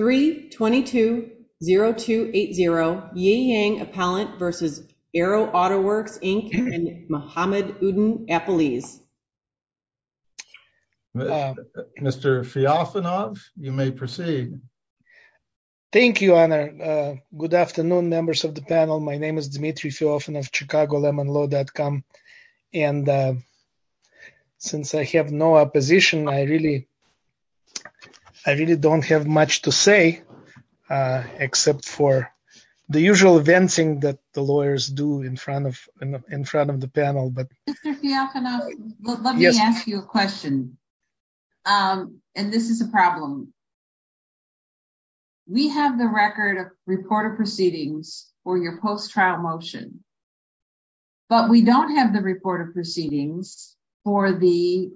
3-22-0280 Ye Yang Appellant v. Aero Auto Works, Inc. and Mohamed Oudin Appeliz. Mr. Fyofanov, you may proceed. Thank you, Anna. Good afternoon, members of the panel. My name is Dmitry Fyofanov, of ChicagoLemonLaw.com, and since I have no opposition, I really don't have much to say, except for the usual venting that the lawyers do in front of the panel. Mr. Fyofanov, let me ask you a question, and this is a problem. We have the record of report of proceedings for your post-trial motion, but we don't have the report of proceedings for the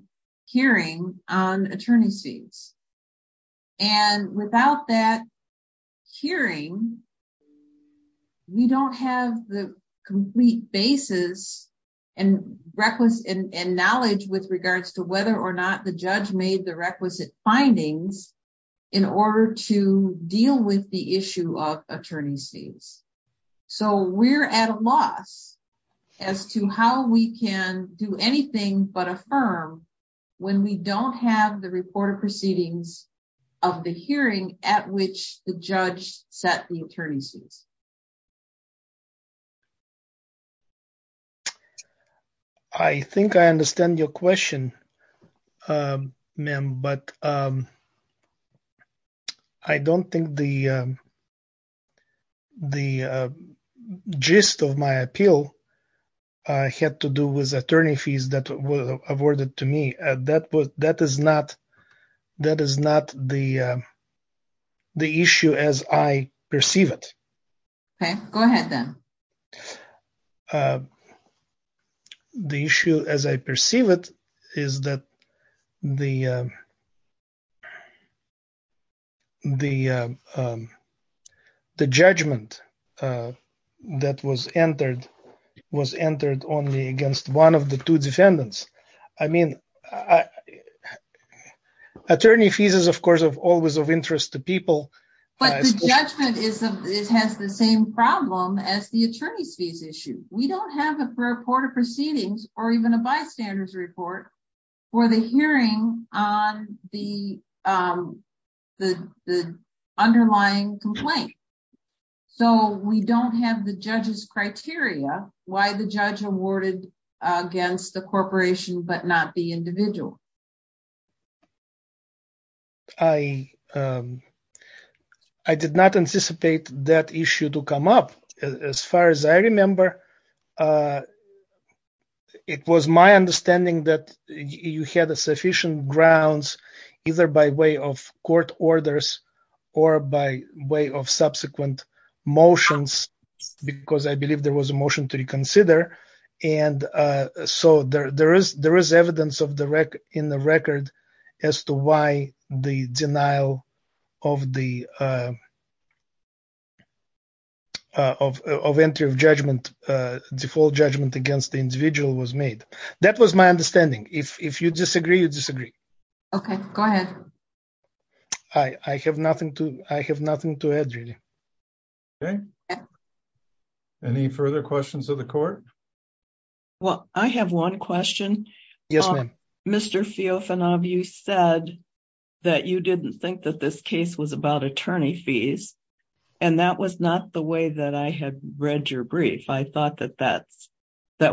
hearing on attorney's fees, and without that hearing, we don't have the complete basis and knowledge with regards to whether or not the judge made the requisite findings in order to deal with the issue of attorney's fees. So, we're at a loss as to how we can do anything but affirm when we don't have the report of proceedings of the hearing at which the judge set the attorney's fees. I think I understand your question, ma'am, but I don't think the gist of my appeal had to do with attorney fees that were awarded to me. That is not the issue as I perceive it. Okay, go ahead then. The issue, as I perceive it, is that the judgment that was entered was entered only against one of the two defendants. I mean, attorney fees is, of course, always of interest to people. But the judgment has the same problem as the attorney's fees issue. We don't have a report of proceedings or even a bystander's report for the hearing on the underlying complaint. So, we don't have the judge's criteria why the judge awarded against the corporation but not the individual. I did not anticipate that issue to come up. As far as I remember, it was my understanding that you had sufficient grounds either by way of court orders or by way of subsequent motions because I believe there was a motion to reconsider. And so, there is evidence in the record as to why the denial of the entry of judgment, default judgment against the individual was made. That was my understanding. If you disagree, you disagree. Okay, go ahead. I have nothing to add, really. Okay. Any further questions of the court? Well, I have one question. Yes, ma'am. Mr. Feofanov, you said that you didn't think that this case was about attorney fees and that was not the way that I had read your brief. I thought that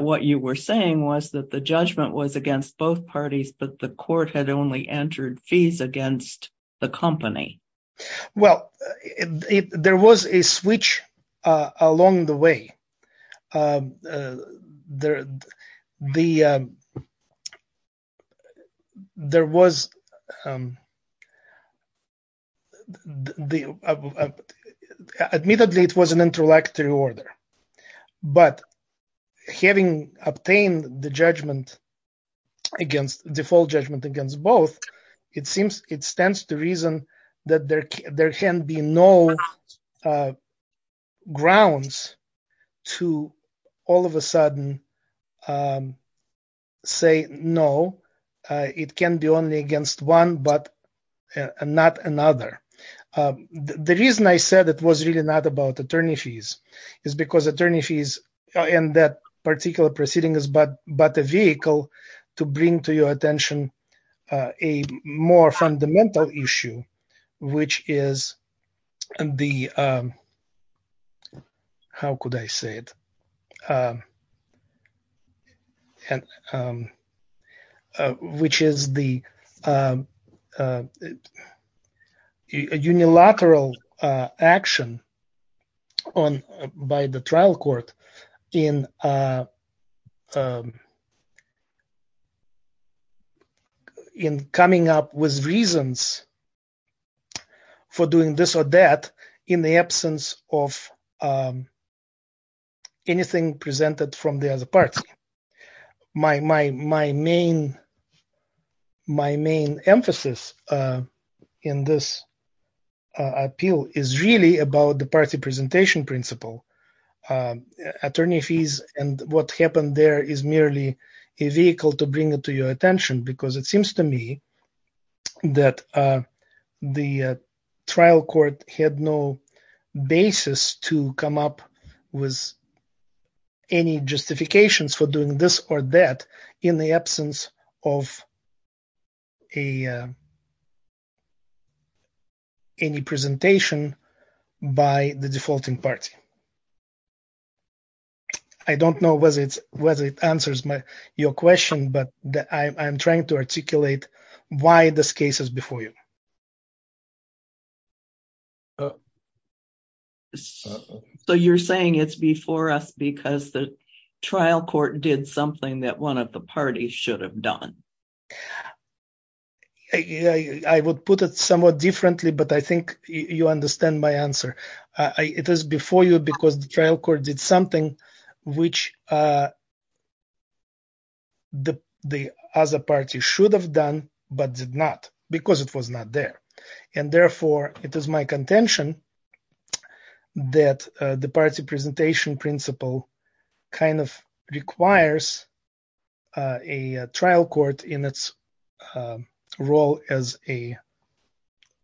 what you were saying was that the judgment was against both parties but the court had only entered fees against the company. Well, there was a switch along the way. Admittedly, it was an introductory order but having obtained the judgment against, default judgment against both, it seems it stands to reason that there can be no grounds to all of a sudden say no, it can be only against one but not another. The reason I said it was really not about attorney fees is because attorney fees and that particular proceeding is but a vehicle to bring to your attention a more fundamental issue which is the how could I say it and which is the unilateral action on by the trial court in in coming up with reasons for doing this or that in the absence of anything presented from the other party. My main emphasis in this appeal is really about the party presentation principle. Attorney fees and what happened there is merely a vehicle to bring it to your attention because it seems to me that the trial court had no basis to come up with any justifications for doing this or that in the absence of any presentation by the defaulting party. I don't know whether it answers your question but I'm trying to articulate why this case is before you. So you're saying it's before us because the trial court did something that one of the parties should have done? I would put it somewhat differently but I think you understand my answer. It is before you because the trial court did something which the other party should have done but did not because it was not there and therefore it is my contention that the party presentation principle kind of requires a trial court in its role as a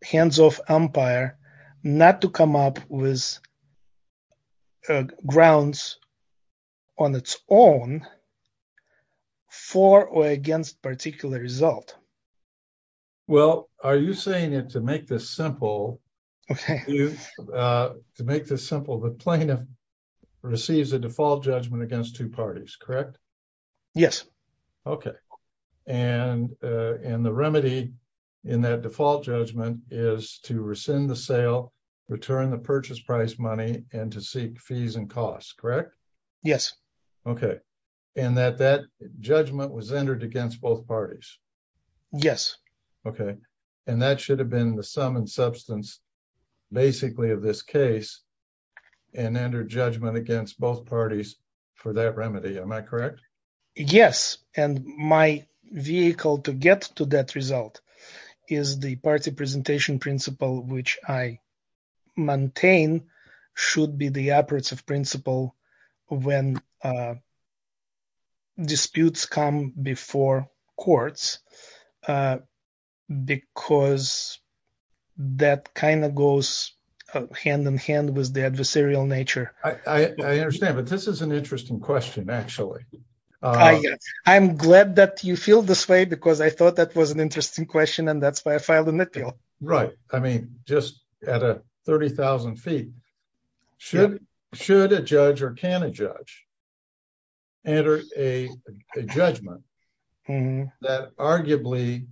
hands-off umpire not to come up with grounds on its own for or against particular result. Well are you saying that to make this simple the plaintiff receives a default judgment against two parties correct? Yes. Okay and the remedy in that default judgment is to rescind the sale, return the purchase price money and to seek fees and costs correct? Yes. Okay and that that should have been the sum and substance basically of this case and enter judgment against both parties for that remedy. Am I correct? Yes and my vehicle to get to that result is the party presentation principle which I maintain should be the operative principle when disputes come before courts because that kind of goes hand in hand with the adversarial nature. I understand but this is an interesting question actually. I'm glad that you feel this way because I thought that was an interesting question and that's why I filed a nitpick. Right I mean just at a 30,000 feet should a judge or can a judge enter a judgment that arguably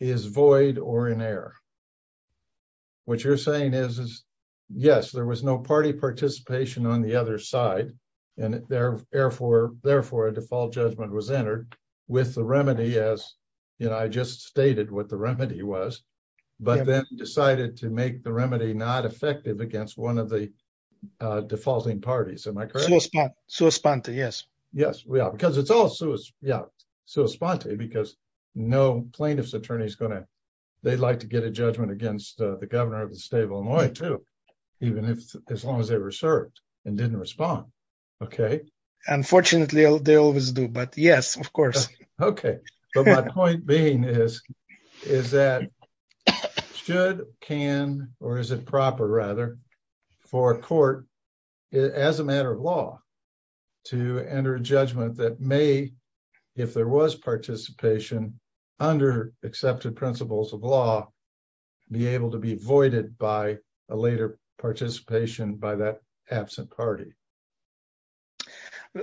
is void or in error? What you're saying is yes there was no party participation on the other side and therefore a default judgment was entered with the remedy as you know I just stated what remedy was but then decided to make the remedy not effective against one of the defaulting parties. Am I correct? Yes we are because it's all because no plaintiff's attorney is going to they'd like to get a judgment against the governor of the state of Illinois too even if as long as they were served and didn't respond. Okay unfortunately they always do but yes of course. Okay but my point being is is that should can or is it proper rather for a court as a matter of law to enter a judgment that may if there was participation under accepted principles of law be able to be voided by a later participation by that absent party?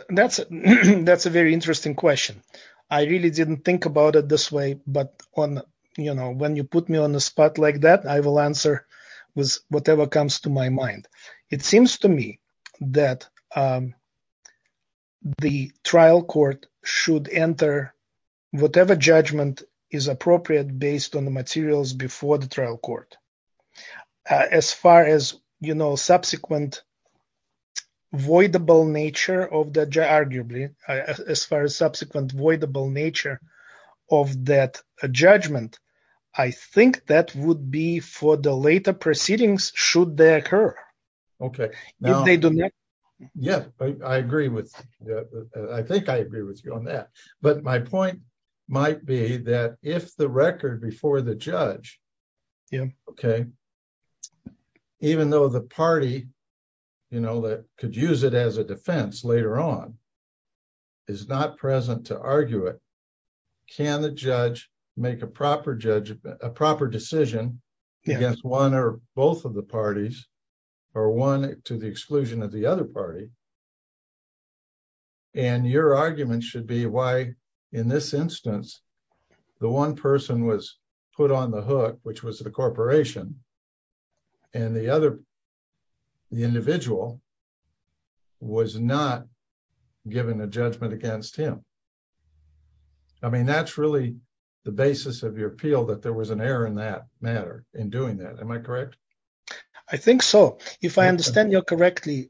That's that's a very interesting question. I really didn't think about it this way but on you know when you put me on the spot like that I will answer with whatever comes to my mind. It seems to me that the trial court should enter whatever judgment is appropriate based on the materials before the trial court. As far as you know subsequent voidable nature of the arguably as far as subsequent voidable nature of that judgment I think that would be for the later proceedings should they occur. Okay if they do. Yeah I agree with yeah I think I agree with you on that but my point might be that if the record before the judge yeah okay even though the party you know that could use it as a defense later on is not present to argue it can the judge make a proper judgment a proper decision against one or both of the parties or one to the exclusion of the other party and your argument should be why in this instance the one person was put on the hook which was the corporation and the other the individual was not given a judgment against him. I mean that's really the basis of your appeal that there was an error in that matter in doing that am I correct? I think so if I understand you correctly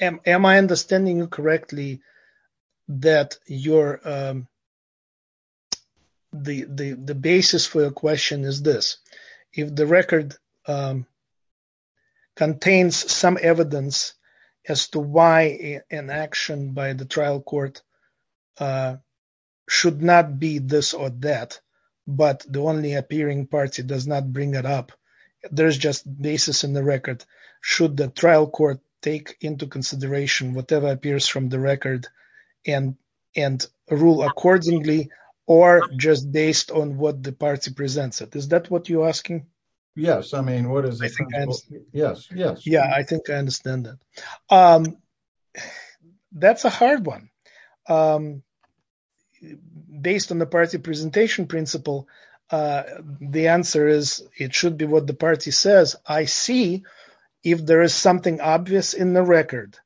am I understanding you correctly that you're the basis for your question is this if the record contains some evidence as to why an action by the trial court should not be this or that but the only appearing party does not bring it up there's just basis in the record should the trial court take into consideration whatever appears from the record and and rule accordingly or just based on what the party presents it is that what you're asking yes I mean what is yes yes yeah I think I understand that that's a hard one based on the party presentation principle the answer is it should be what the party says I see if there is something obvious in the record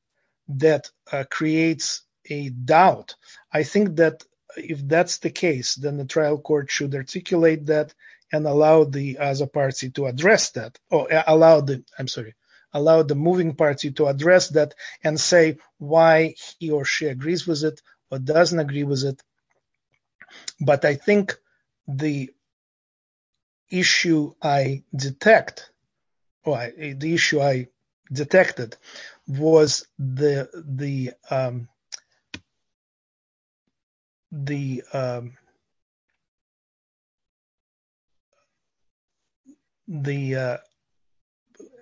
that creates a doubt I think that if that's the case then the trial court should articulate that and allow the other party to address that oh allow the I'm sorry allow the moving party to address that and say why he or she agrees with it or doesn't agree with it but I think the issue I detected was the the the the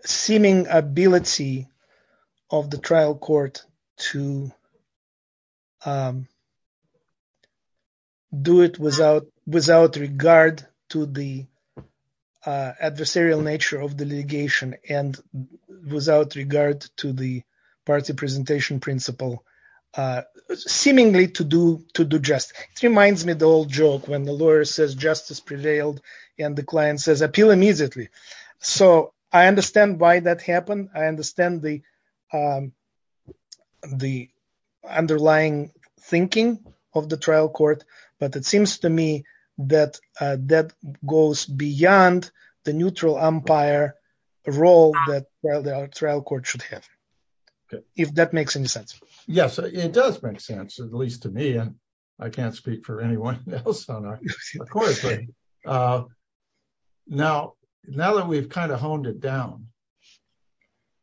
seeming ability of the trial court to um do it without without regard to the adversarial nature of the litigation and without regard to the party presentation principle uh seemingly to do to do just it reminds me the old joke when the lawyer says justice prevailed and the client says appeal immediately so I thinking of the trial court but it seems to me that uh that goes beyond the neutral umpire role that well the trial court should have if that makes any sense yes it does make sense at least to me and I can't speak for anyone else on our course uh now now that we've kind of honed it down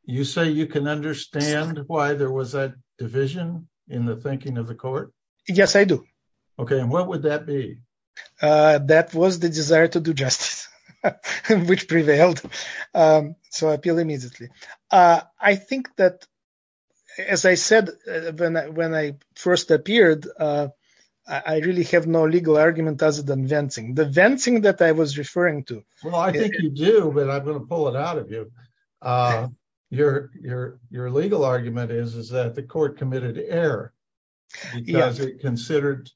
you say you can understand why there was a division in the thinking of the court yes I do okay and what would that be uh that was the desire to do justice which prevailed um so appeal immediately uh I think that as I said when I when I first appeared uh I really have no legal argument other than venting the venting that I was referring to well I think you do but I'm going to pull it out of you uh your your your legal argument is is that the court committed error because it considered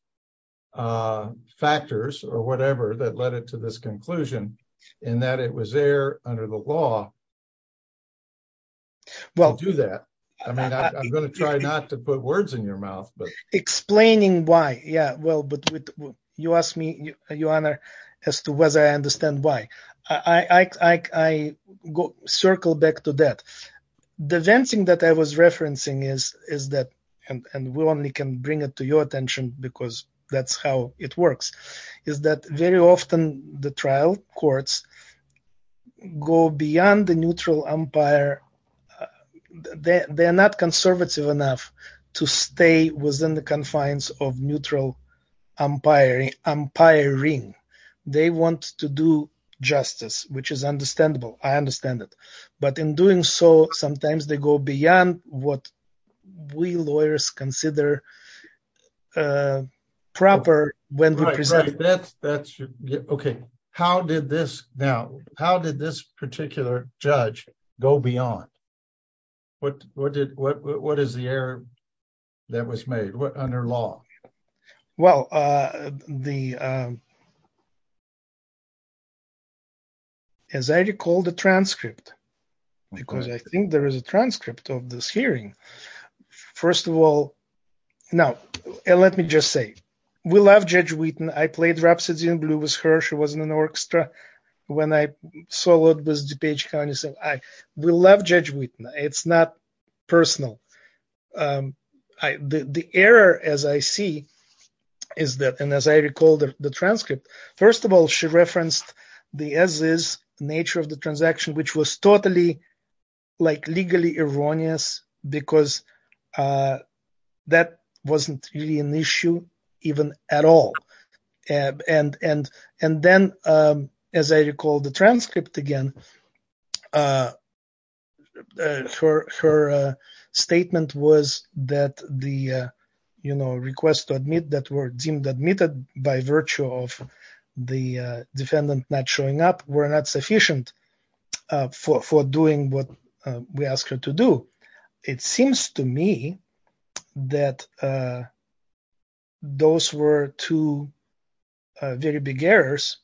uh factors or whatever that led it to this conclusion and that it was there under the law well do that I mean I'm going to try not to put words in your mouth but explaining why yeah well but with you ask me your honor as to whether I understand why I I circle back to that the venting that I was referencing is is that and we only can bring it to your attention because that's how it works is that very often the trial courts go beyond the neutral umpire they're not conservative enough to stay within the confines of neutral umpiring umpiring they want to do justice which is understandable I understand it but in doing so sometimes they go beyond what we lawyers consider uh proper when we present that that's okay how did this now how did this particular judge go beyond what what did what what is the error that was made what under law well uh the um as I recall the transcript because I think there is a transcript of this hearing first of all now and let me just say we love Judge Wheaton I played Rhapsody in Blue with her she was in an orchestra when I saw what was DuPage County so I we love Judge Wheaton it's not personal um I the the error as I see is that and as I recall the transcript first of all she referenced the as is nature of the transaction which was totally like legally erroneous because uh that wasn't really an issue even at all and and and then um as I recall the transcript again uh her her uh statement was that the uh you know request to admit that were deemed admitted by virtue of the defendant not showing up were not sufficient uh for for doing what we ask her to do it seems to me that uh those were two very big errors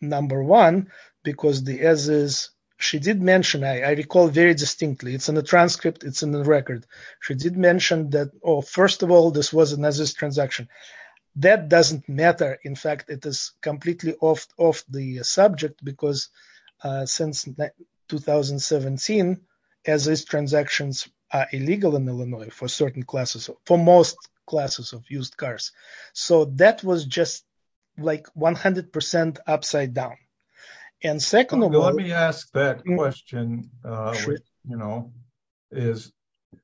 number one because the as is she did mention I recall very distinctly it's in the transcript it's in the record she did mention that oh first of all this was another transaction that doesn't matter in fact it is completely off of the subject because uh since 2017 as these transactions are illegal in Illinois for certain classes for most classes of used cars so that was just like 100 percent upside down and second let me ask that question uh you know is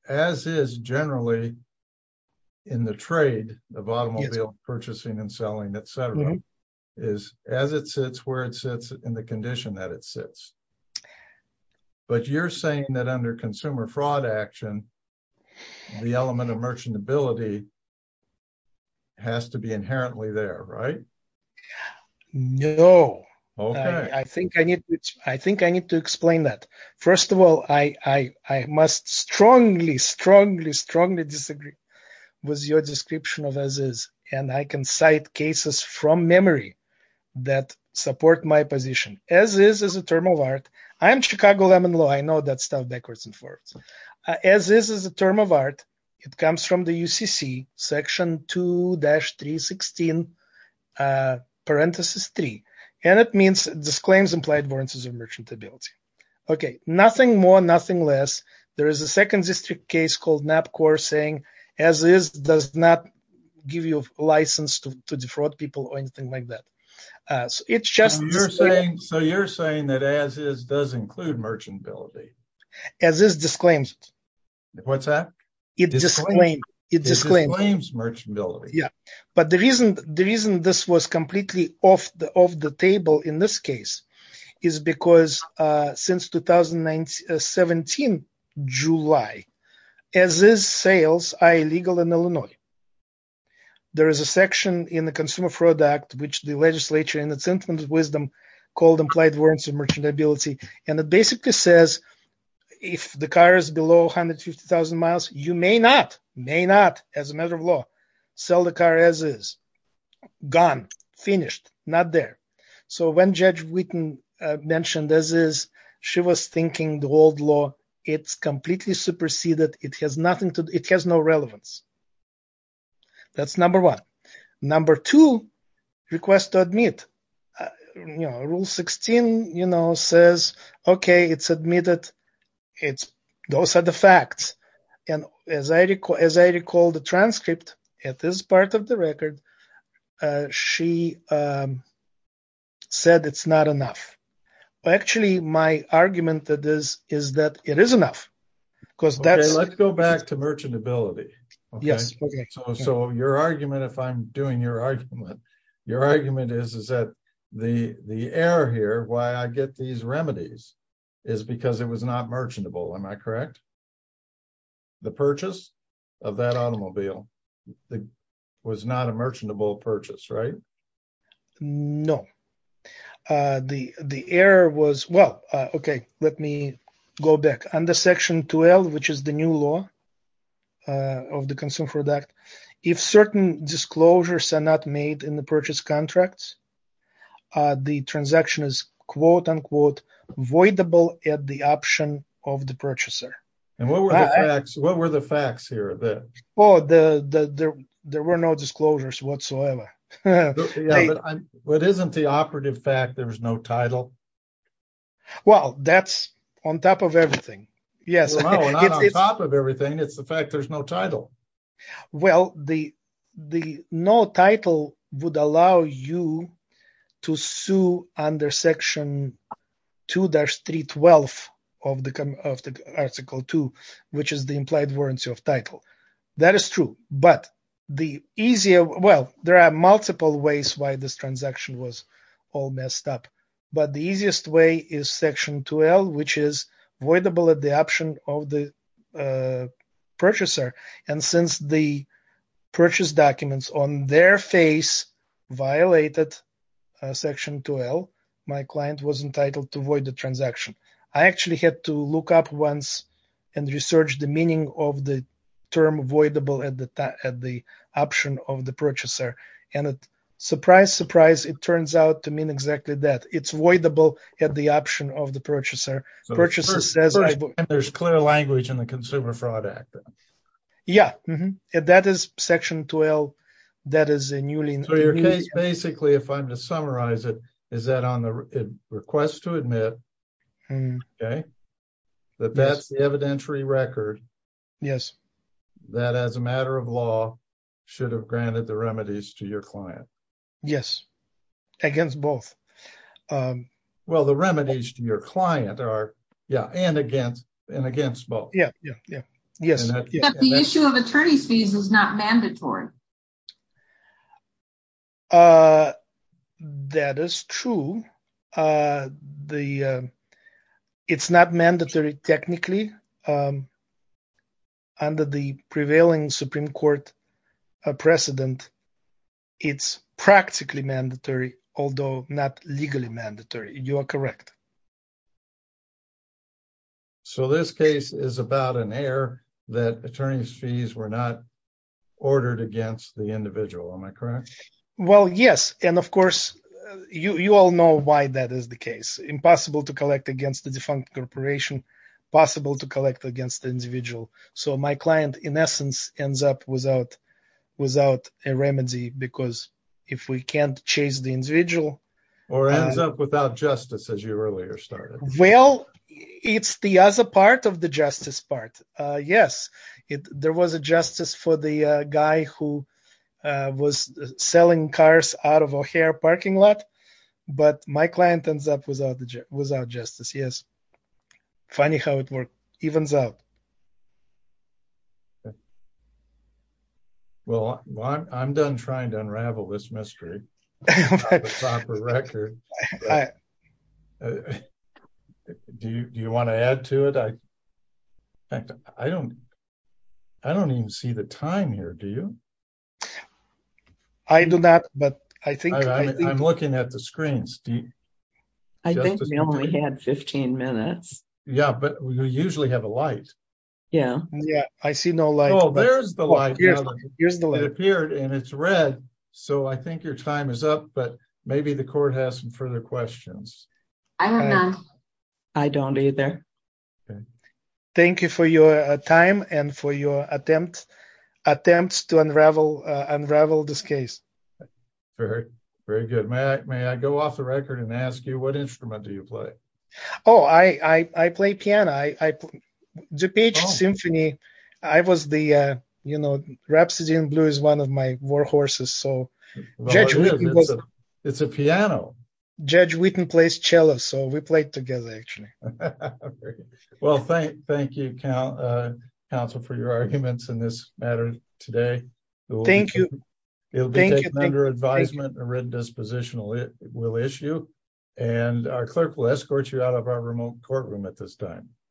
as is generally in the trade of automobile purchasing and selling etc is as it sits where it sits in the condition that it sits but you're saying that under consumer fraud action the element of merchantability has to be inherently there right yeah no I think I need to I think I need to explain that first of all I I must strongly strongly strongly disagree with your description of as is and I can cite cases from memory that support my position as is as a term of art I am Chicago lemon law I know that stuff backwards and forwards as this is a term of art it comes from the UCC section 2-316 uh parenthesis three and it means disclaims implied variances of merchantability okay nothing more nothing less there is a second district case called NAPCOR saying as is does not give you a license to defraud people or anything like that uh so it's just you're saying so you're saying that as is does include merchantability as this disclaims it what's that it disclaims merchantability yeah but the reason the reason this was completely off the of the table in this case is because uh since 2017 July as is sales are illegal in Illinois there is a section in the consumer fraud act which the legislature in its infinite wisdom called implied warrants of merchantability and it basically says if the car is below 150 000 miles you may not may not as a matter of law sell the car as is gone finished not there so when Judge Witten mentioned as is she was thinking the old law it's completely superseded it has nothing to it has no relevance that's number one number two request to admit you know rule 16 you know says okay it's admitted it's those are the facts and as I recall as I recall the transcript at this part of the record uh she um said it's not enough actually my argument that is is that it is enough because that's let's go back to merchantability yes so your argument if I'm doing your argument your argument is is that the the error here why I get these remedies is because it was not merchantable am I correct the purchase of that automobile was not a merchantable purchase right no uh the the error was well okay let me go back under product if certain disclosures are not made in the purchase contracts uh the transaction is quote-unquote voidable at the option of the purchaser and what were the facts what were the facts here that oh the the there were no disclosures whatsoever but isn't the operative fact there's no title well that's on top of everything yes on top of everything it's the fact there's no title well the the no title would allow you to sue under section 2-312 of the article 2 which is the implied warranty of title that is true but the easier well there are multiple ways why this transaction was all messed up but the easiest way is section 2l which is voidable at the option of the purchaser and since the purchase documents on their face violated section 2l my client was entitled to void the transaction I actually had to look up once and research the meaning of the term voidable at the time at the option of the purchaser purchases there's clear language in the consumer fraud act yeah that is section 12 that is a newly so your case basically if i'm to summarize it is that on the request to admit okay that that's the evidentiary record yes that as a matter of law should have granted the remedies to your client yes against both well the remedies to your client are yeah and against and against both yeah yeah yeah yes the issue of attorney's fees is not mandatory uh that is true uh the it's not mandatory technically um under the prevailing supreme court a precedent it's practically mandatory although not legally mandatory you are correct so this case is about an error that attorney's fees were not ordered against the individual am i correct well yes and of course you you all know why that is the case impossible to collect against the defunct corporation possible to collect against the without a remedy because if we can't chase the individual or ends up without justice as you earlier started well it's the other part of the justice part uh yes it there was a justice for the uh guy who uh was selling cars out of a hair parking lot but my client ends up without without justice yes funny how it worked evens out well i'm done trying to unravel this mystery do you want to add to it i i don't i don't even see the time here do you i do not but i think i'm looking at the screens do you i think we only had 15 minutes yeah but we usually have a light yeah yeah i see no light oh there's the light here's the light appeared and it's red so i think your time is up but maybe the court has some further questions i don't know i don't either okay thank you for your time and for your attempt attempts to unravel unravel this case very very good may i may i go off the record and ask you what instrument do you play oh i i i play piano i i the peach symphony i was the uh you know rhapsody in blue is one of my war horses so it's a piano judge whitten plays cello so we played together actually well thank thank you count uh counsel for your arguments in this matter today thank you it'll be taken under advisement a red dispositional it will issue and our clerk will escort you out of our remote courtroom at this time